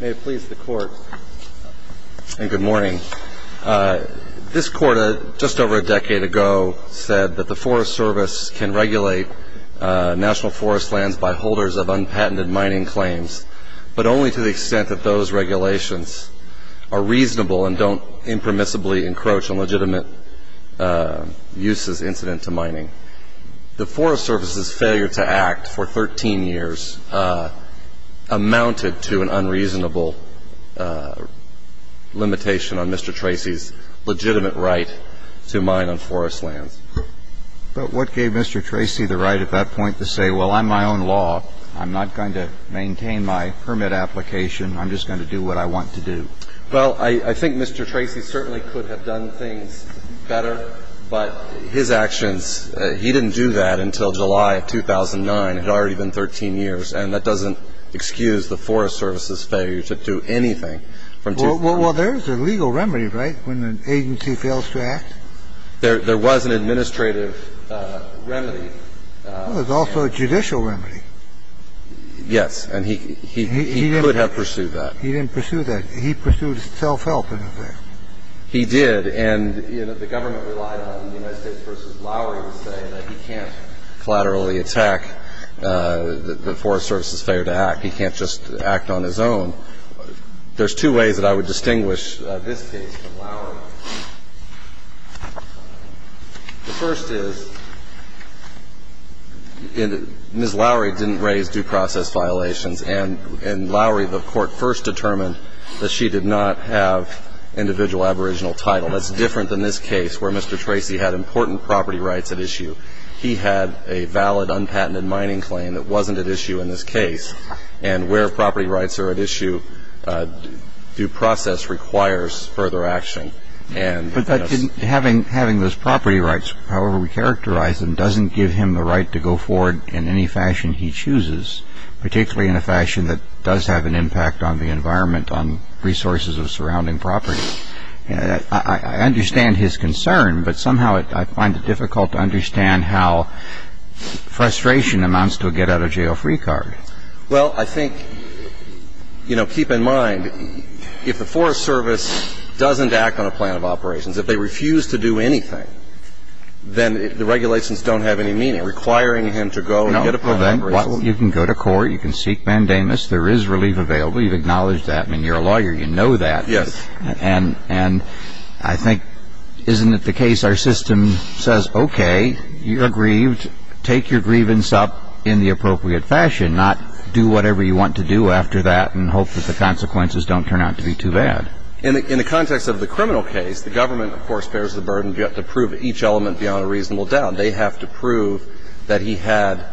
May it please the Court, and good morning. This Court, just over a decade ago, said that the Forest Service can regulate national forest lands by holders of unpatented mining claims, but only to the extent that those regulations are reasonable and don't impermissibly encroach on legitimate uses incident to mining. The Forest Service's failure to act for 13 years amounted to an unreasonable limitation on Mr. Tracy's legitimate right to mine on forest lands. But what gave Mr. Tracy the right at that point to say, well, I'm my own law. I'm not going to maintain my permit application. I'm just going to do what I want to do. Well, I think Mr. Tracy certainly could have done things better, but his actions he didn't do that until July of 2009, had already been 13 years. And that doesn't excuse the Forest Service's failure to do anything from 2009. Well, there's a legal remedy, right, when an agency fails to act? There was an administrative remedy. There's also a judicial remedy. Yes. And he could have pursued that. He didn't pursue that. He pursued self-help, in effect. He did, and, you know, the government relied on the United States v. Lowery to say that he can't collaterally attack the Forest Service's failure to act. He can't just act on his own. There's two ways that I would distinguish this case from Lowery. The first is, Ms. Lowery didn't raise due process violations, and Lowery, the Court first determined that she did not have individual aboriginal title. That's different than this case, where Mr. Tracy had important property rights at issue. He had a valid, unpatented mining claim that wasn't at issue in this case, and where property rights are at issue, due process requires further action. But having those property rights, however we characterize them, doesn't give him the right to go forward in any fashion he chooses, particularly in a fashion that does have an impact on the environment, on resources of surrounding property. I understand his concern, but somehow I find it difficult to understand how frustration amounts to a get-out-of-jail-free card. Well, I think, you know, keep in mind, if the Forest Service doesn't act on a plan of operations, if they refuse to do anything, then the regulations don't have any meaning requiring him to go and get a plan of operations. Well, then, you can go to court, you can seek mandamus, there is relief available, you've acknowledged that, I mean, you're a lawyer, you know that. Yes. And I think, isn't it the case our system says, okay, you're grieved, take your grievance up in the appropriate fashion, not do whatever you want to do after that and hope that the consequences don't turn out to be too bad. In the context of the criminal case, the government, of course, bears the burden to prove each element beyond a reasonable doubt. They have to prove that he had,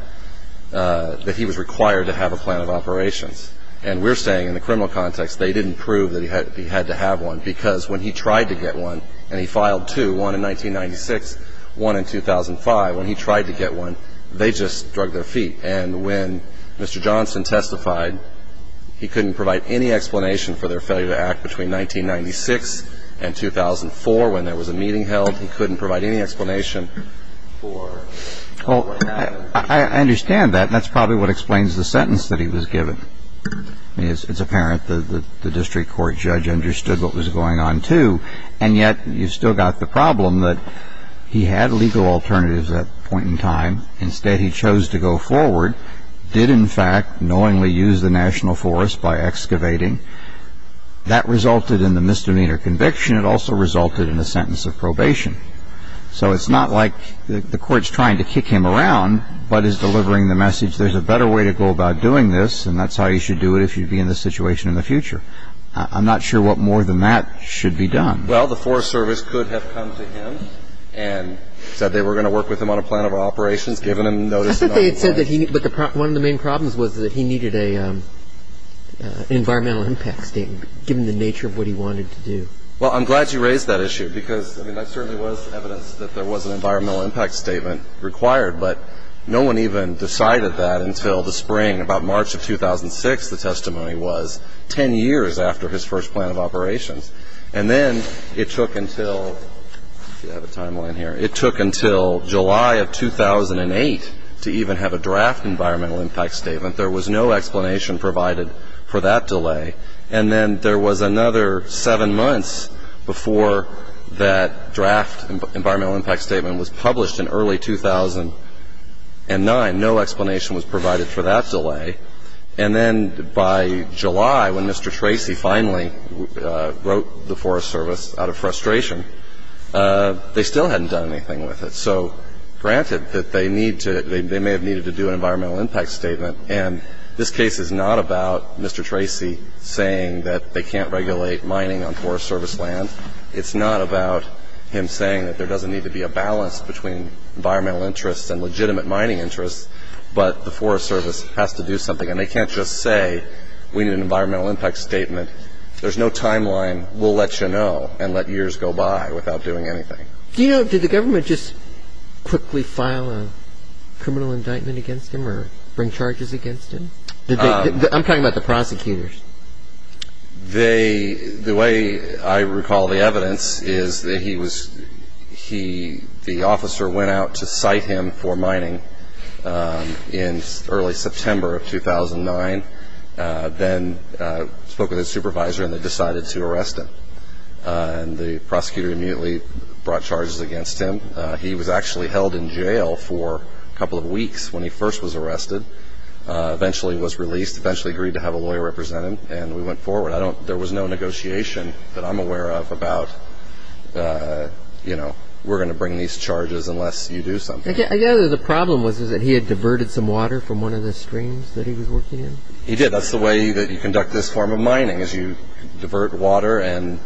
that he was required to have a plan of operations. And we're saying in the criminal context they didn't prove that he had to have one because when he tried to get one, and he filed two, one in 1996, one in 2005, when he tried to get one, they just drug their feet. And when Mr. Johnson testified, he couldn't provide any explanation for their failure to act between 1996 and 2004 when there was a meeting held. He couldn't provide any explanation for what happened. Well, I understand that, and that's probably what explains the sentence that he was given. I mean, it's apparent that the district court judge understood what was going on, too, and yet you've still got the problem that he had legal alternatives at that point in time. Instead, he chose to go forward, did, in fact, knowingly use the national forest by excavating. That resulted in the misdemeanor conviction. It also resulted in a sentence of probation. So it's not like the court's trying to kick him around but is delivering the message there's a better way to go about doing this, and that's how you should do it if you'd be in this situation in the future. I'm not sure what more than that should be done. Well, the Forest Service could have come to him and said they were going to work with him on a plan of operations, given him notice. But one of the main problems was that he needed an environmental impact statement, given the nature of what he wanted to do. Well, I'm glad you raised that issue because, I mean, there certainly was evidence that there was an environmental impact statement required, but no one even decided that until the spring, about March of 2006, the testimony was, 10 years after his first plan of operations. And then it took until, let's see, I have a timeline here. It took until July of 2008 to even have a draft environmental impact statement. There was no explanation provided for that delay. And then there was another seven months before that draft environmental impact statement was published in early 2009. No explanation was provided for that delay. And then by July, when Mr. Tracy finally wrote the Forest Service out of frustration, they still hadn't done anything with it. So granted that they may have needed to do an environmental impact statement, and this case is not about Mr. Tracy saying that they can't regulate mining on Forest Service land. It's not about him saying that there doesn't need to be a balance between environmental interests and legitimate mining interests, but the Forest Service has to do something. And they can't just say we need an environmental impact statement. There's no timeline. We'll let you know and let years go by without doing anything. Do you know, did the government just quickly file a criminal indictment against him or bring charges against him? I'm talking about the prosecutors. The way I recall the evidence is that the officer went out to cite him for mining in early September of 2009, then spoke with his supervisor and they decided to arrest him. And the prosecutor immediately brought charges against him. He was actually held in jail for a couple of weeks when he first was arrested, eventually was released, eventually agreed to have a lawyer represent him, and we went forward. There was no negotiation that I'm aware of about, you know, we're going to bring these charges unless you do something. I gather the problem was that he had diverted some water from one of the streams that he was working in? He did. That's the way that you conduct this form of mining is you divert water and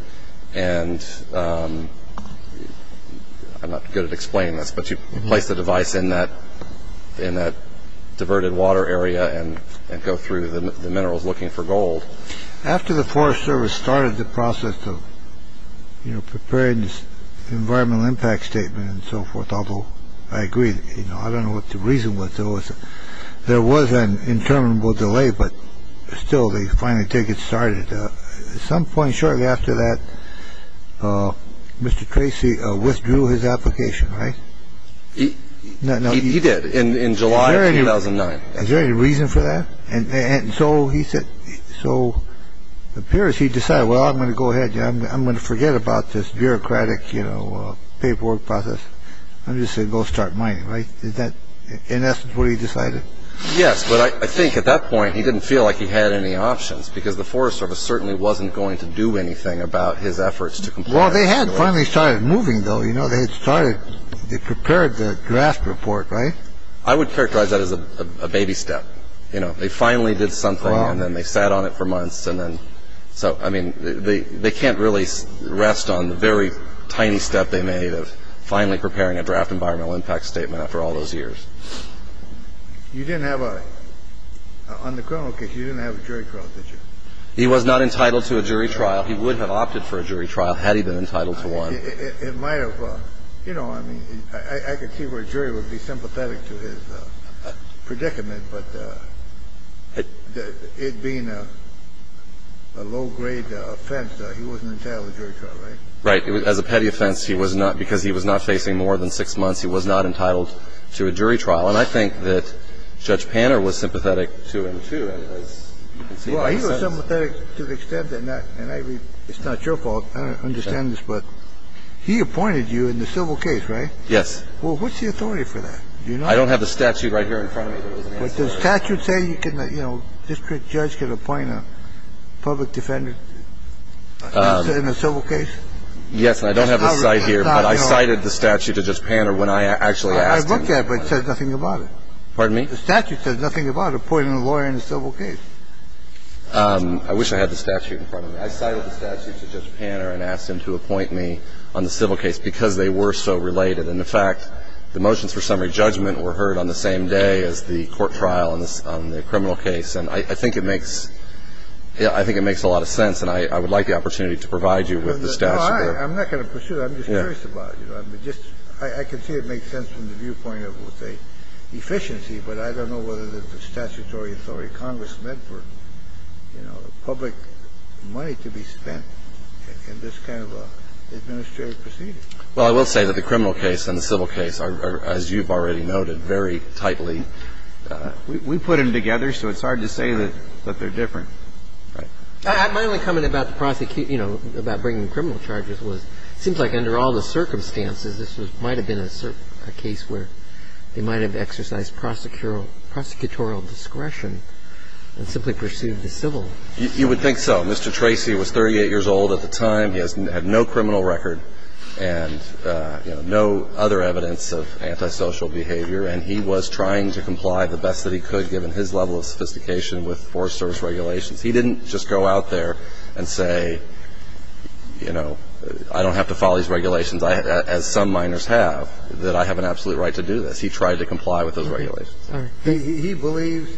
I'm not good at explaining this, but you place the device in that in that diverted water area and go through the minerals looking for gold. After the Forest Service started the process of preparing this environmental impact statement and so forth, although I agree, you know, I don't know what the reason was. There was an interminable delay, but still they finally take it started. At some point shortly after that, Mr. Tracy withdrew his application, right? He did in July 2009. Is there any reason for that? And so he said, so it appears he decided, well, I'm going to go ahead. I'm going to forget about this bureaucratic, you know, paperwork process. I'm just going to go start mining, right? Is that in essence what he decided? Yes. But I think at that point he didn't feel like he had any options because the Forest Service certainly wasn't going to do anything about his efforts. Well, they had finally started moving, though. You know, they had started. They prepared the draft report, right? I would characterize that as a baby step. You know, they finally did something and then they sat on it for months. And then so I mean, they can't really rest on the very tiny step they made of finally preparing a draft environmental impact statement after all those years. You didn't have a – on the criminal case, you didn't have a jury trial, did you? He was not entitled to a jury trial. He would have opted for a jury trial had he been entitled to one. It might have – you know, I mean, I could see where a jury would be sympathetic to his predicament. But it being a low-grade offense, he wasn't entitled to a jury trial, right? Right. As a petty offense, he was not – because he was not facing more than six months, he was not entitled to a jury trial. And I think that Judge Panner was sympathetic to him, too. Well, he was sympathetic to the extent that – and it's not your fault. I don't understand this, but he appointed you in the civil case, right? Yes. Well, what's the authority for that? I don't have the statute right here in front of me. But does the statute say you can – you know, district judge can appoint a public defender in a civil case? Yes, and I don't have the cite here, but I cited the statute to Judge Panner when I actually asked him. I looked at it, but it says nothing about it. Pardon me? The statute says nothing about appointing a lawyer in a civil case. I wish I had the statute in front of me. I cited the statute to Judge Panner and asked him to appoint me on the civil case because they were so related. And, in fact, the motions for summary judgment were heard on the same day as the court trial on the criminal case. And I think it makes – yeah, I think it makes a lot of sense, and I would like the opportunity to provide you with the statute. No, I'm not going to pursue that. I'm just curious about it. I mean, just – I can see it makes sense from the viewpoint of, let's say, efficiency, but I don't know whether the statutory authority of Congress meant for, you know, public money to be spent in this kind of an administrative proceeding. Well, I will say that the criminal case and the civil case are, as you've already noted, very tightly – we put them together, so it's hard to say that they're different. Right. My only comment about the prosecution – you know, about bringing criminal charges was it seems like under all the circumstances, this might have been a case where they might have exercised prosecutorial discretion and simply pursued the civil. You would think so. Mr. Tracy was 38 years old at the time. He had no criminal record and, you know, no other evidence of antisocial behavior, and he was trying to comply the best that he could, given his level of sophistication with Forest Service regulations. He didn't just go out there and say, you know, I don't have to follow these regulations, as some miners have, that I have an absolute right to do this. He tried to comply with those regulations. He believes,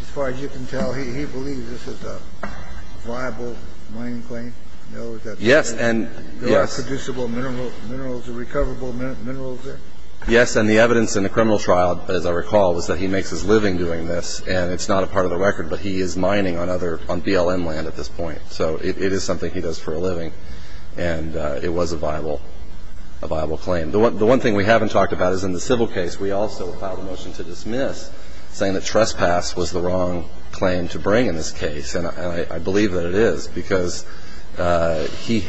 as far as you can tell, he believes this is a viable mining claim? Yes, and yes. There are producible minerals, recoverable minerals there? Yes, and the evidence in the criminal trial, as I recall, was that he makes his living doing this, and it's not a part of the record, but he is mining on BLM land at this point, so it is something he does for a living, and it was a viable claim. The one thing we haven't talked about is in the civil case, we also filed a motion to dismiss saying that trespass was the wrong claim to bring in this case, and I believe that it is because he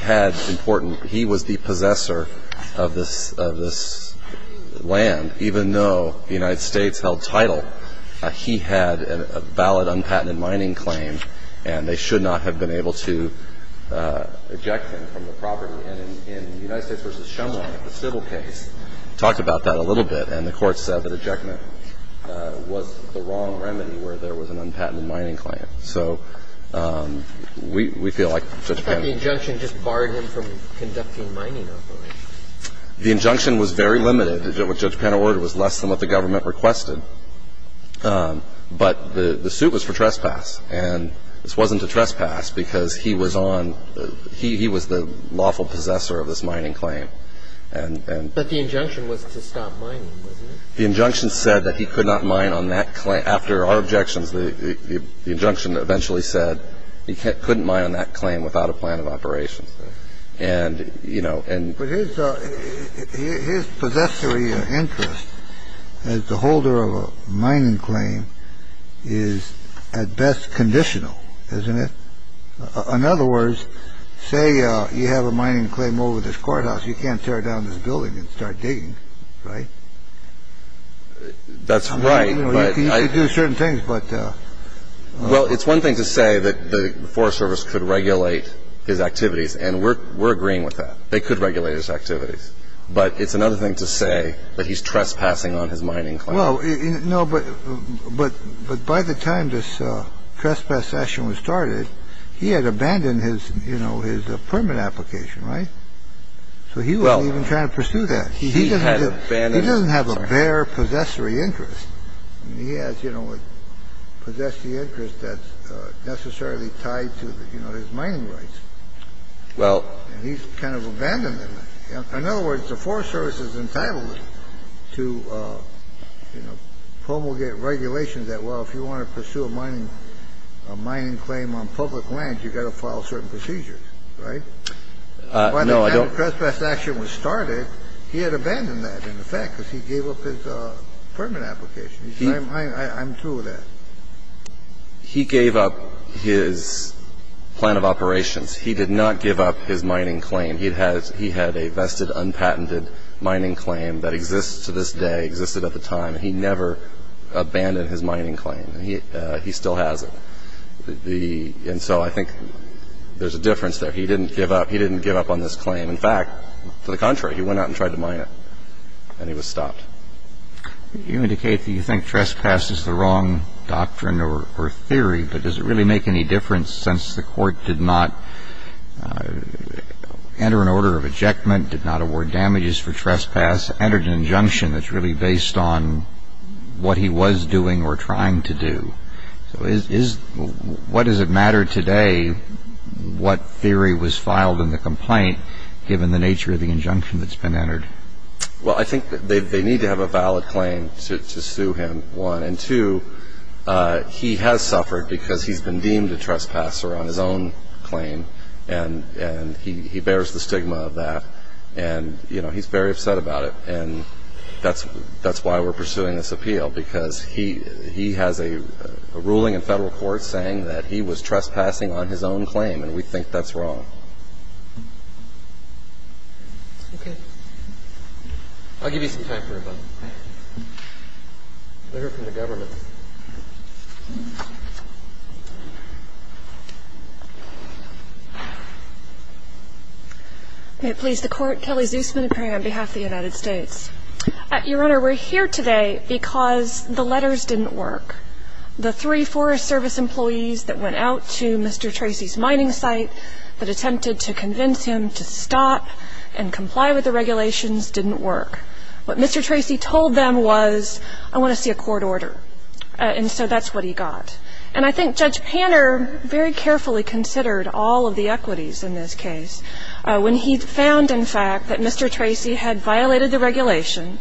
was the possessor of this land, even though the United States held title, he had a valid, unpatented mining claim, and they should not have been able to eject him from the property. And in the United States v. Shumway, the civil case, talked about that a little bit, and the court said that ejectment was the wrong remedy where there was an unpatented mining claim. So we feel like Judge Penna... But the injunction just barred him from conducting mining operations. The injunction was very limited. What Judge Penna ordered was less than what the government requested, but the suit was for trespass, and this wasn't a trespass because he was on the – he was the lawful possessor of this mining claim. But the injunction was to stop mining, wasn't it? The injunction said that he could not mine on that claim. After our objections, the injunction eventually said he couldn't mine on that claim without a plan of operations. And, you know, and... But his possessory interest as the holder of a mining claim is at best conditional, isn't it? In other words, say you have a mining claim over this courthouse, you can't tear down this building and start digging, right? That's right, but... You can do certain things, but... Well, it's one thing to say that the Forest Service could regulate his activities, and we're agreeing with that. They could regulate his activities. But it's another thing to say that he's trespassing on his mining claim. Well, no, but by the time this trespass session was started, he had abandoned his, you know, his permit application, right? So he wasn't even trying to pursue that. He had abandoned... He doesn't have a bare possessory interest. I mean, he has, you know, a possessory interest that's necessarily tied to, you know, his mining rights. Well... And he's kind of abandoned them. In other words, the Forest Service is entitled to, you know, promulgate regulations that, well, if you want to pursue a mining claim on public land, you've got to follow certain procedures, right? No, I don't... He's not a mere trespasser. So the fact that when this session was started, he had abandoned that, in effect, because he gave up his permit application. I'm through with that. He gave up his plan of operations. He did not give up his mining claim. He had a vested, unpatented mining claim that exists to this day, existed at the time. He never abandoned his mining claim. He still has it. And so I think there's a difference there. He didn't give up. He didn't give up on this claim. In fact, to the contrary, he went out and tried to mine it, and he was stopped. You indicate that you think trespass is the wrong doctrine or theory, but does it really make any difference since the Court did not enter an order of ejectment, did not award damages for trespass, entered an injunction that's really based on what he was doing or trying to do? So what does it matter today what theory was filed in the complaint, given the nature of the injunction that's been entered? Well, I think they need to have a valid claim to sue him, one. And two, he has suffered because he's been deemed a trespasser on his own claim, and he bears the stigma of that, and, you know, he's very upset about it. And that's why we're pursuing this appeal, because he has a ruling in federal court saying that he was trespassing on his own claim, and we think that's wrong. Okay. I'll give you some time for a vote. Let's hear from the government. May it please the Court. Kelly Zusman appearing on behalf of the United States. Your Honor, we're here today because the letters didn't work. The three Forest Service employees that went out to Mr. Tracy's mining site that attempted to convince him to stop and comply with the regulations didn't work. What Mr. Tracy told them was, I want to see a court order. And so that's what he got. And I think Judge Panner very carefully considered all of the equities in this case when he found, in fact, that Mr. Tracy had violated the regulation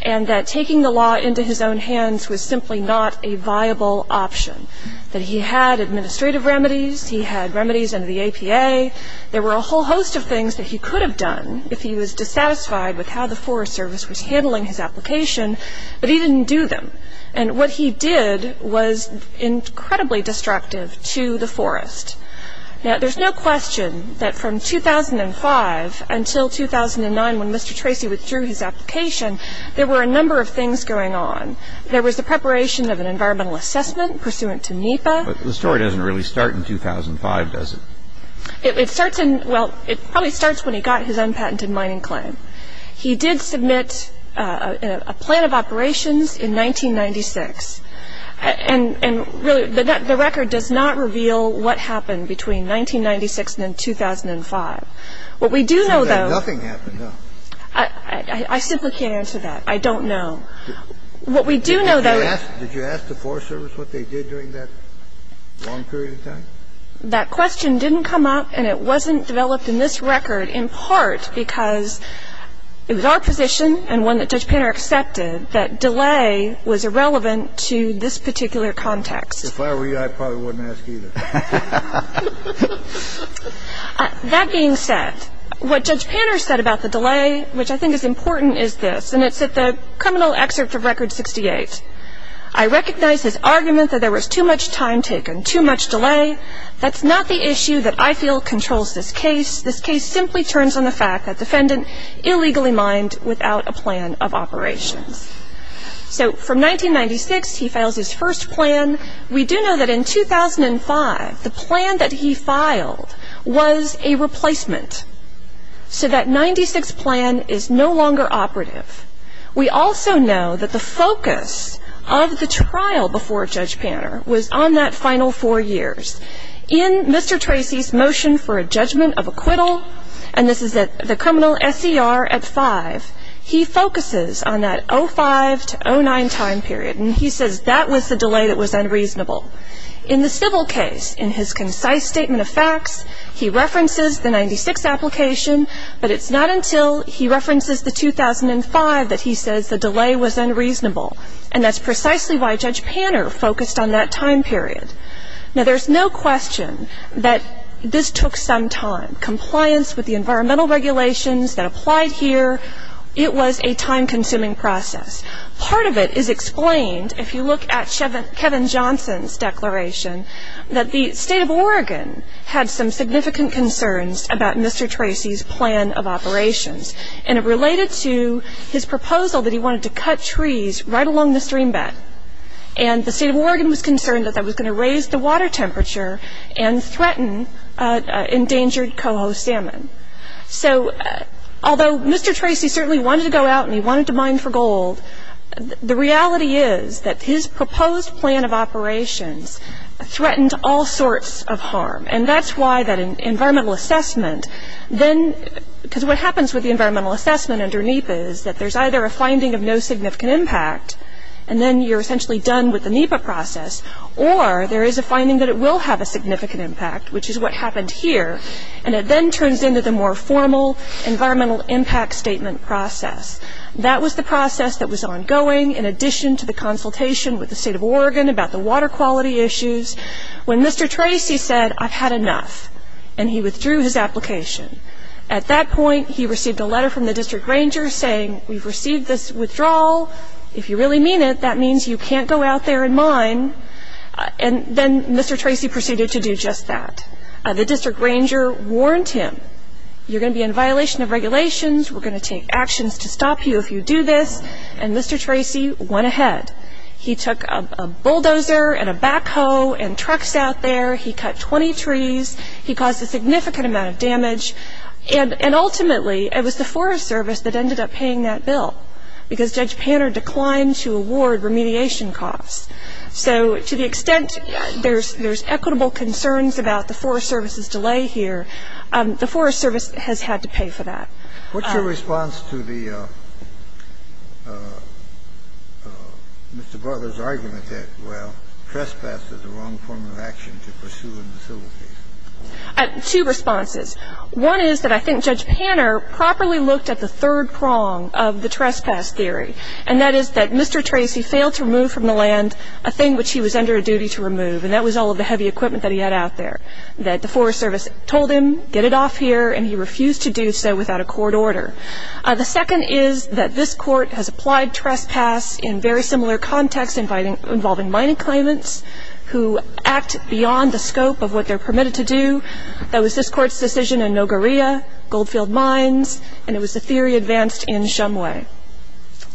and that taking the law into his own hands was simply not a viable option, that he had administrative remedies, he had remedies under the APA. There were a whole host of things that he could have done if he was dissatisfied with how the Forest Service was handling his application, but he didn't do them. And what he did was incredibly destructive to the forest. Now, there's no question that from 2005 until 2009 when Mr. Tracy withdrew his application, there were a number of things going on. There was the preparation of an environmental assessment pursuant to NEPA. But the story doesn't really start in 2005, does it? It starts in ñ well, it probably starts when he got his unpatented mining claim. He did submit a plan of operations in 1996. And really, the record does not reveal what happened between 1996 and 2005. What we do know, though ñ So nothing happened, no? I simply can't answer that. I don't know. What we do know, though ñ Did you ask the Forest Service what they did during that long period of time? That question didn't come up, and it wasn't developed in this record in part because it was our position and one that Judge Panner accepted that delay was irrelevant to this particular context. If I were you, I probably wouldn't ask either. That being said, what Judge Panner said about the delay, which I think is important, is this. And it's at the criminal excerpt of Record 68. I recognize his argument that there was too much time taken, too much delay. That's not the issue that I feel controls this case. This case simply turns on the fact that the defendant illegally mined without a plan of operations. So from 1996, he files his first plan. We do know that in 2005, the plan that he filed was a replacement. So that 96 plan is no longer operative. We also know that the focus of the trial before Judge Panner was on that final four years. In Mr. Tracy's motion for a judgment of acquittal, and this is at the criminal SCR at 5, he focuses on that 05 to 09 time period, and he says that was the delay that was unreasonable. In the civil case, in his concise statement of facts, he references the 96 application, but it's not until he references the 2005 that he says the delay was unreasonable, and that's precisely why Judge Panner focused on that time period. Now, there's no question that this took some time. Compliance with the environmental regulations that applied here, it was a time-consuming process. Part of it is explained, if you look at Kevin Johnson's declaration, that the state of Oregon had some significant concerns about Mr. Tracy's plan of operations, and it related to his proposal that he wanted to cut trees right along the stream bed, and the state of Oregon was concerned that that was going to raise the water temperature and threaten endangered coho salmon. So although Mr. Tracy certainly wanted to go out and he wanted to mine for gold, the reality is that his proposed plan of operations threatened all sorts of harm, and that's why that environmental assessment then, because what happens with the environmental assessment under NEPA is that there's either a finding of no significant impact, and then you're essentially done with the NEPA process, or there is a finding that it will have a significant impact, which is what happened here, and it then turns into the more formal environmental impact statement process. That was the process that was ongoing, in addition to the consultation with the state of Oregon about the water quality issues, when Mr. Tracy said, I've had enough, and he withdrew his application. At that point, he received a letter from the district ranger saying, we've received this withdrawal, if you really mean it, that means you can't go out there and mine, and then Mr. Tracy proceeded to do just that. The district ranger warned him, you're going to be in violation of regulations, we're going to take actions to stop you if you do this, and Mr. Tracy went ahead. He took a bulldozer and a backhoe and trucks out there, he cut 20 trees, he caused a significant amount of damage, and ultimately it was the Forest Service that ended up paying that bill, because Judge Panner declined to award remediation costs. So to the extent there's equitable concerns about the Forest Service's delay here, the Forest Service has had to pay for that. What's your response to the Mr. Butler's argument that, well, trespass is the wrong form of action to pursue in facilities? Two responses. One is that I think Judge Panner properly looked at the third prong of the trespass theory, and that is that Mr. Tracy failed to remove from the land a thing which he was under a duty to remove, and that was all of the heavy equipment that he had out there, that the Forest Service told him, get it off here, and he refused to do so without a court order. The second is that this Court has applied trespass in very similar contexts involving mining claimants who act beyond the scope of what they're permitted to do. That was this Court's decision in Nogoria, Goldfield Mines, and it was the theory advanced in Shumway.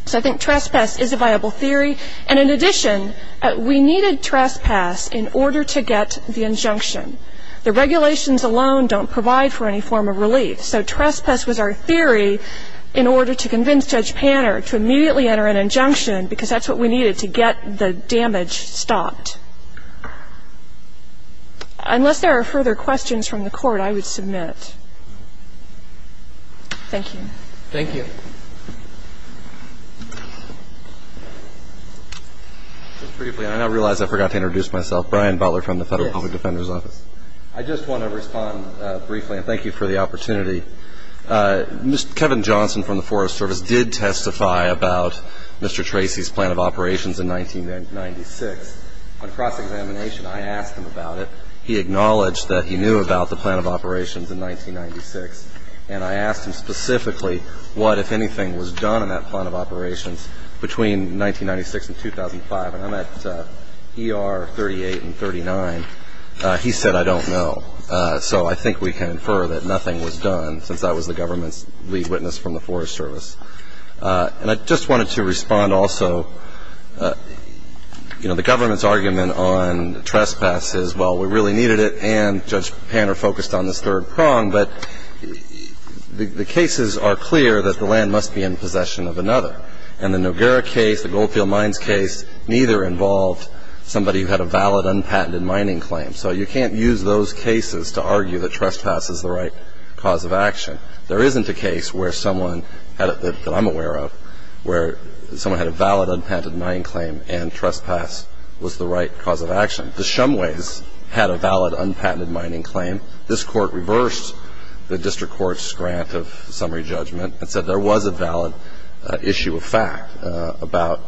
So I think trespass is a viable theory. And in addition, we needed trespass in order to get the injunction. The regulations alone don't provide for any form of relief, so trespass was our theory in order to convince Judge Panner to immediately enter an injunction because that's what we needed to get the damage stopped. Unless there are further questions from the Court, I would submit. Thank you. Thank you. Just briefly, I now realize I forgot to introduce myself. Brian Butler from the Federal Public Defender's Office. Yes. I just want to respond briefly, and thank you for the opportunity. Mr. Kevin Johnson from the Forest Service did testify about Mr. Tracy's plan of operations in 1996. On cross-examination, I asked him about it. He acknowledged that he knew about the plan of operations in 1996, and I asked him specifically what, if anything, was done in that plan of operations between 1996 and 2005. And I'm at ER 38 and 39. He said, I don't know. So I think we can infer that nothing was done since I was the government's lead witness from the Forest Service. And I just wanted to respond also. You know, the government's argument on trespass is, well, we really needed it, and Judge Panner focused on this third prong, but the cases are clear that the land must be in possession of another. And the Noguera case, the Goldfield Mines case, neither involved somebody who had a valid, unpatented mining claim. So you can't use those cases to argue that trespass is the right cause of action. There isn't a case where someone that I'm aware of where someone had a valid, unpatented mining claim and trespass was the right cause of action. The Shumways had a valid, unpatented mining claim. This court reversed the district court's grant of summary judgment and said there was a valid issue of fact about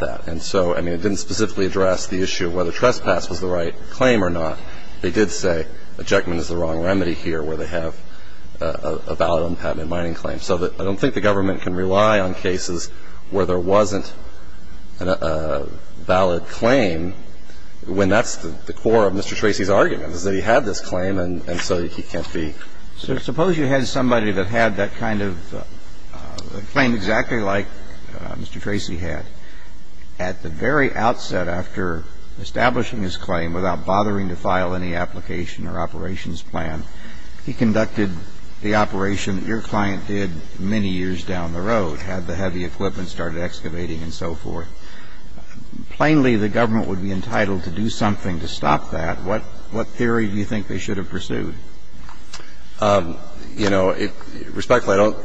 that. And so, I mean, it didn't specifically address the issue of whether trespass was the right claim or not. They did say ejectment is the wrong remedy here where they have a valid, unpatented mining claim. So I don't think the government can rely on cases where there wasn't a valid claim when that's the core of Mr. Tracy's argument, is that he had this claim and so he can't be. So suppose you had somebody that had that kind of claim exactly like Mr. Tracy had. At the very outset after establishing his claim without bothering to file any application or operations plan, he conducted the operation that your client did many years down the road, had the heavy equipment started excavating and so forth. Plainly, the government would be entitled to do something to stop that. What theory do you think they should have pursued? You know, respectfully, I don't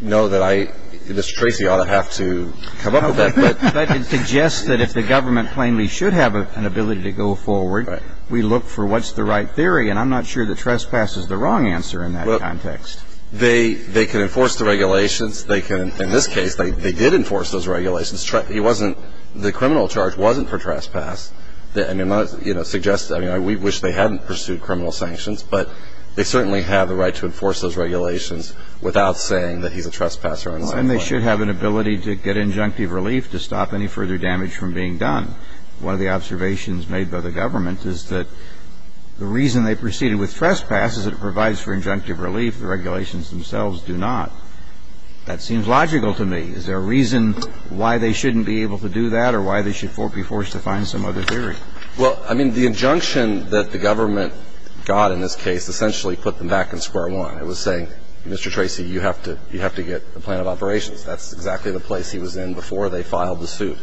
know that I – Mr. Tracy ought to have to come up with that. But it suggests that if the government plainly should have an ability to go forward, we look for what's the right theory. And I'm not sure that trespass is the wrong answer in that context. Well, they can enforce the regulations. They can – in this case, they did enforce those regulations. He wasn't – the criminal charge wasn't for trespass. I mean, I wish they hadn't pursued criminal sanctions, but they certainly have the right to enforce those regulations without saying that he's a trespasser. And they should have an ability to get injunctive relief to stop any further damage from being done. One of the observations made by the government is that the reason they proceeded with trespass is it provides for injunctive relief. The regulations themselves do not. That seems logical to me. Is there a reason why they shouldn't be able to do that or why they should be forced to find some other theory? Well, I mean, the injunction that the government got in this case essentially put them back in square one. It was saying, Mr. Tracy, you have to – you have to get a plan of operations. That's exactly the place he was in before they filed the suit.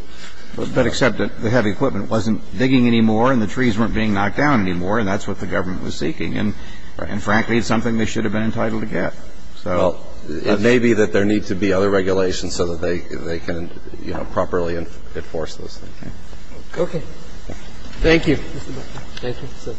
But except that the heavy equipment wasn't digging anymore and the trees weren't being knocked down anymore, and that's what the government was seeking. And frankly, it's something they should have been entitled to get. So – Well, it may be that there need to be other regulations so that they can, you know, properly enforce those things. Okay. Thank you. Thank you.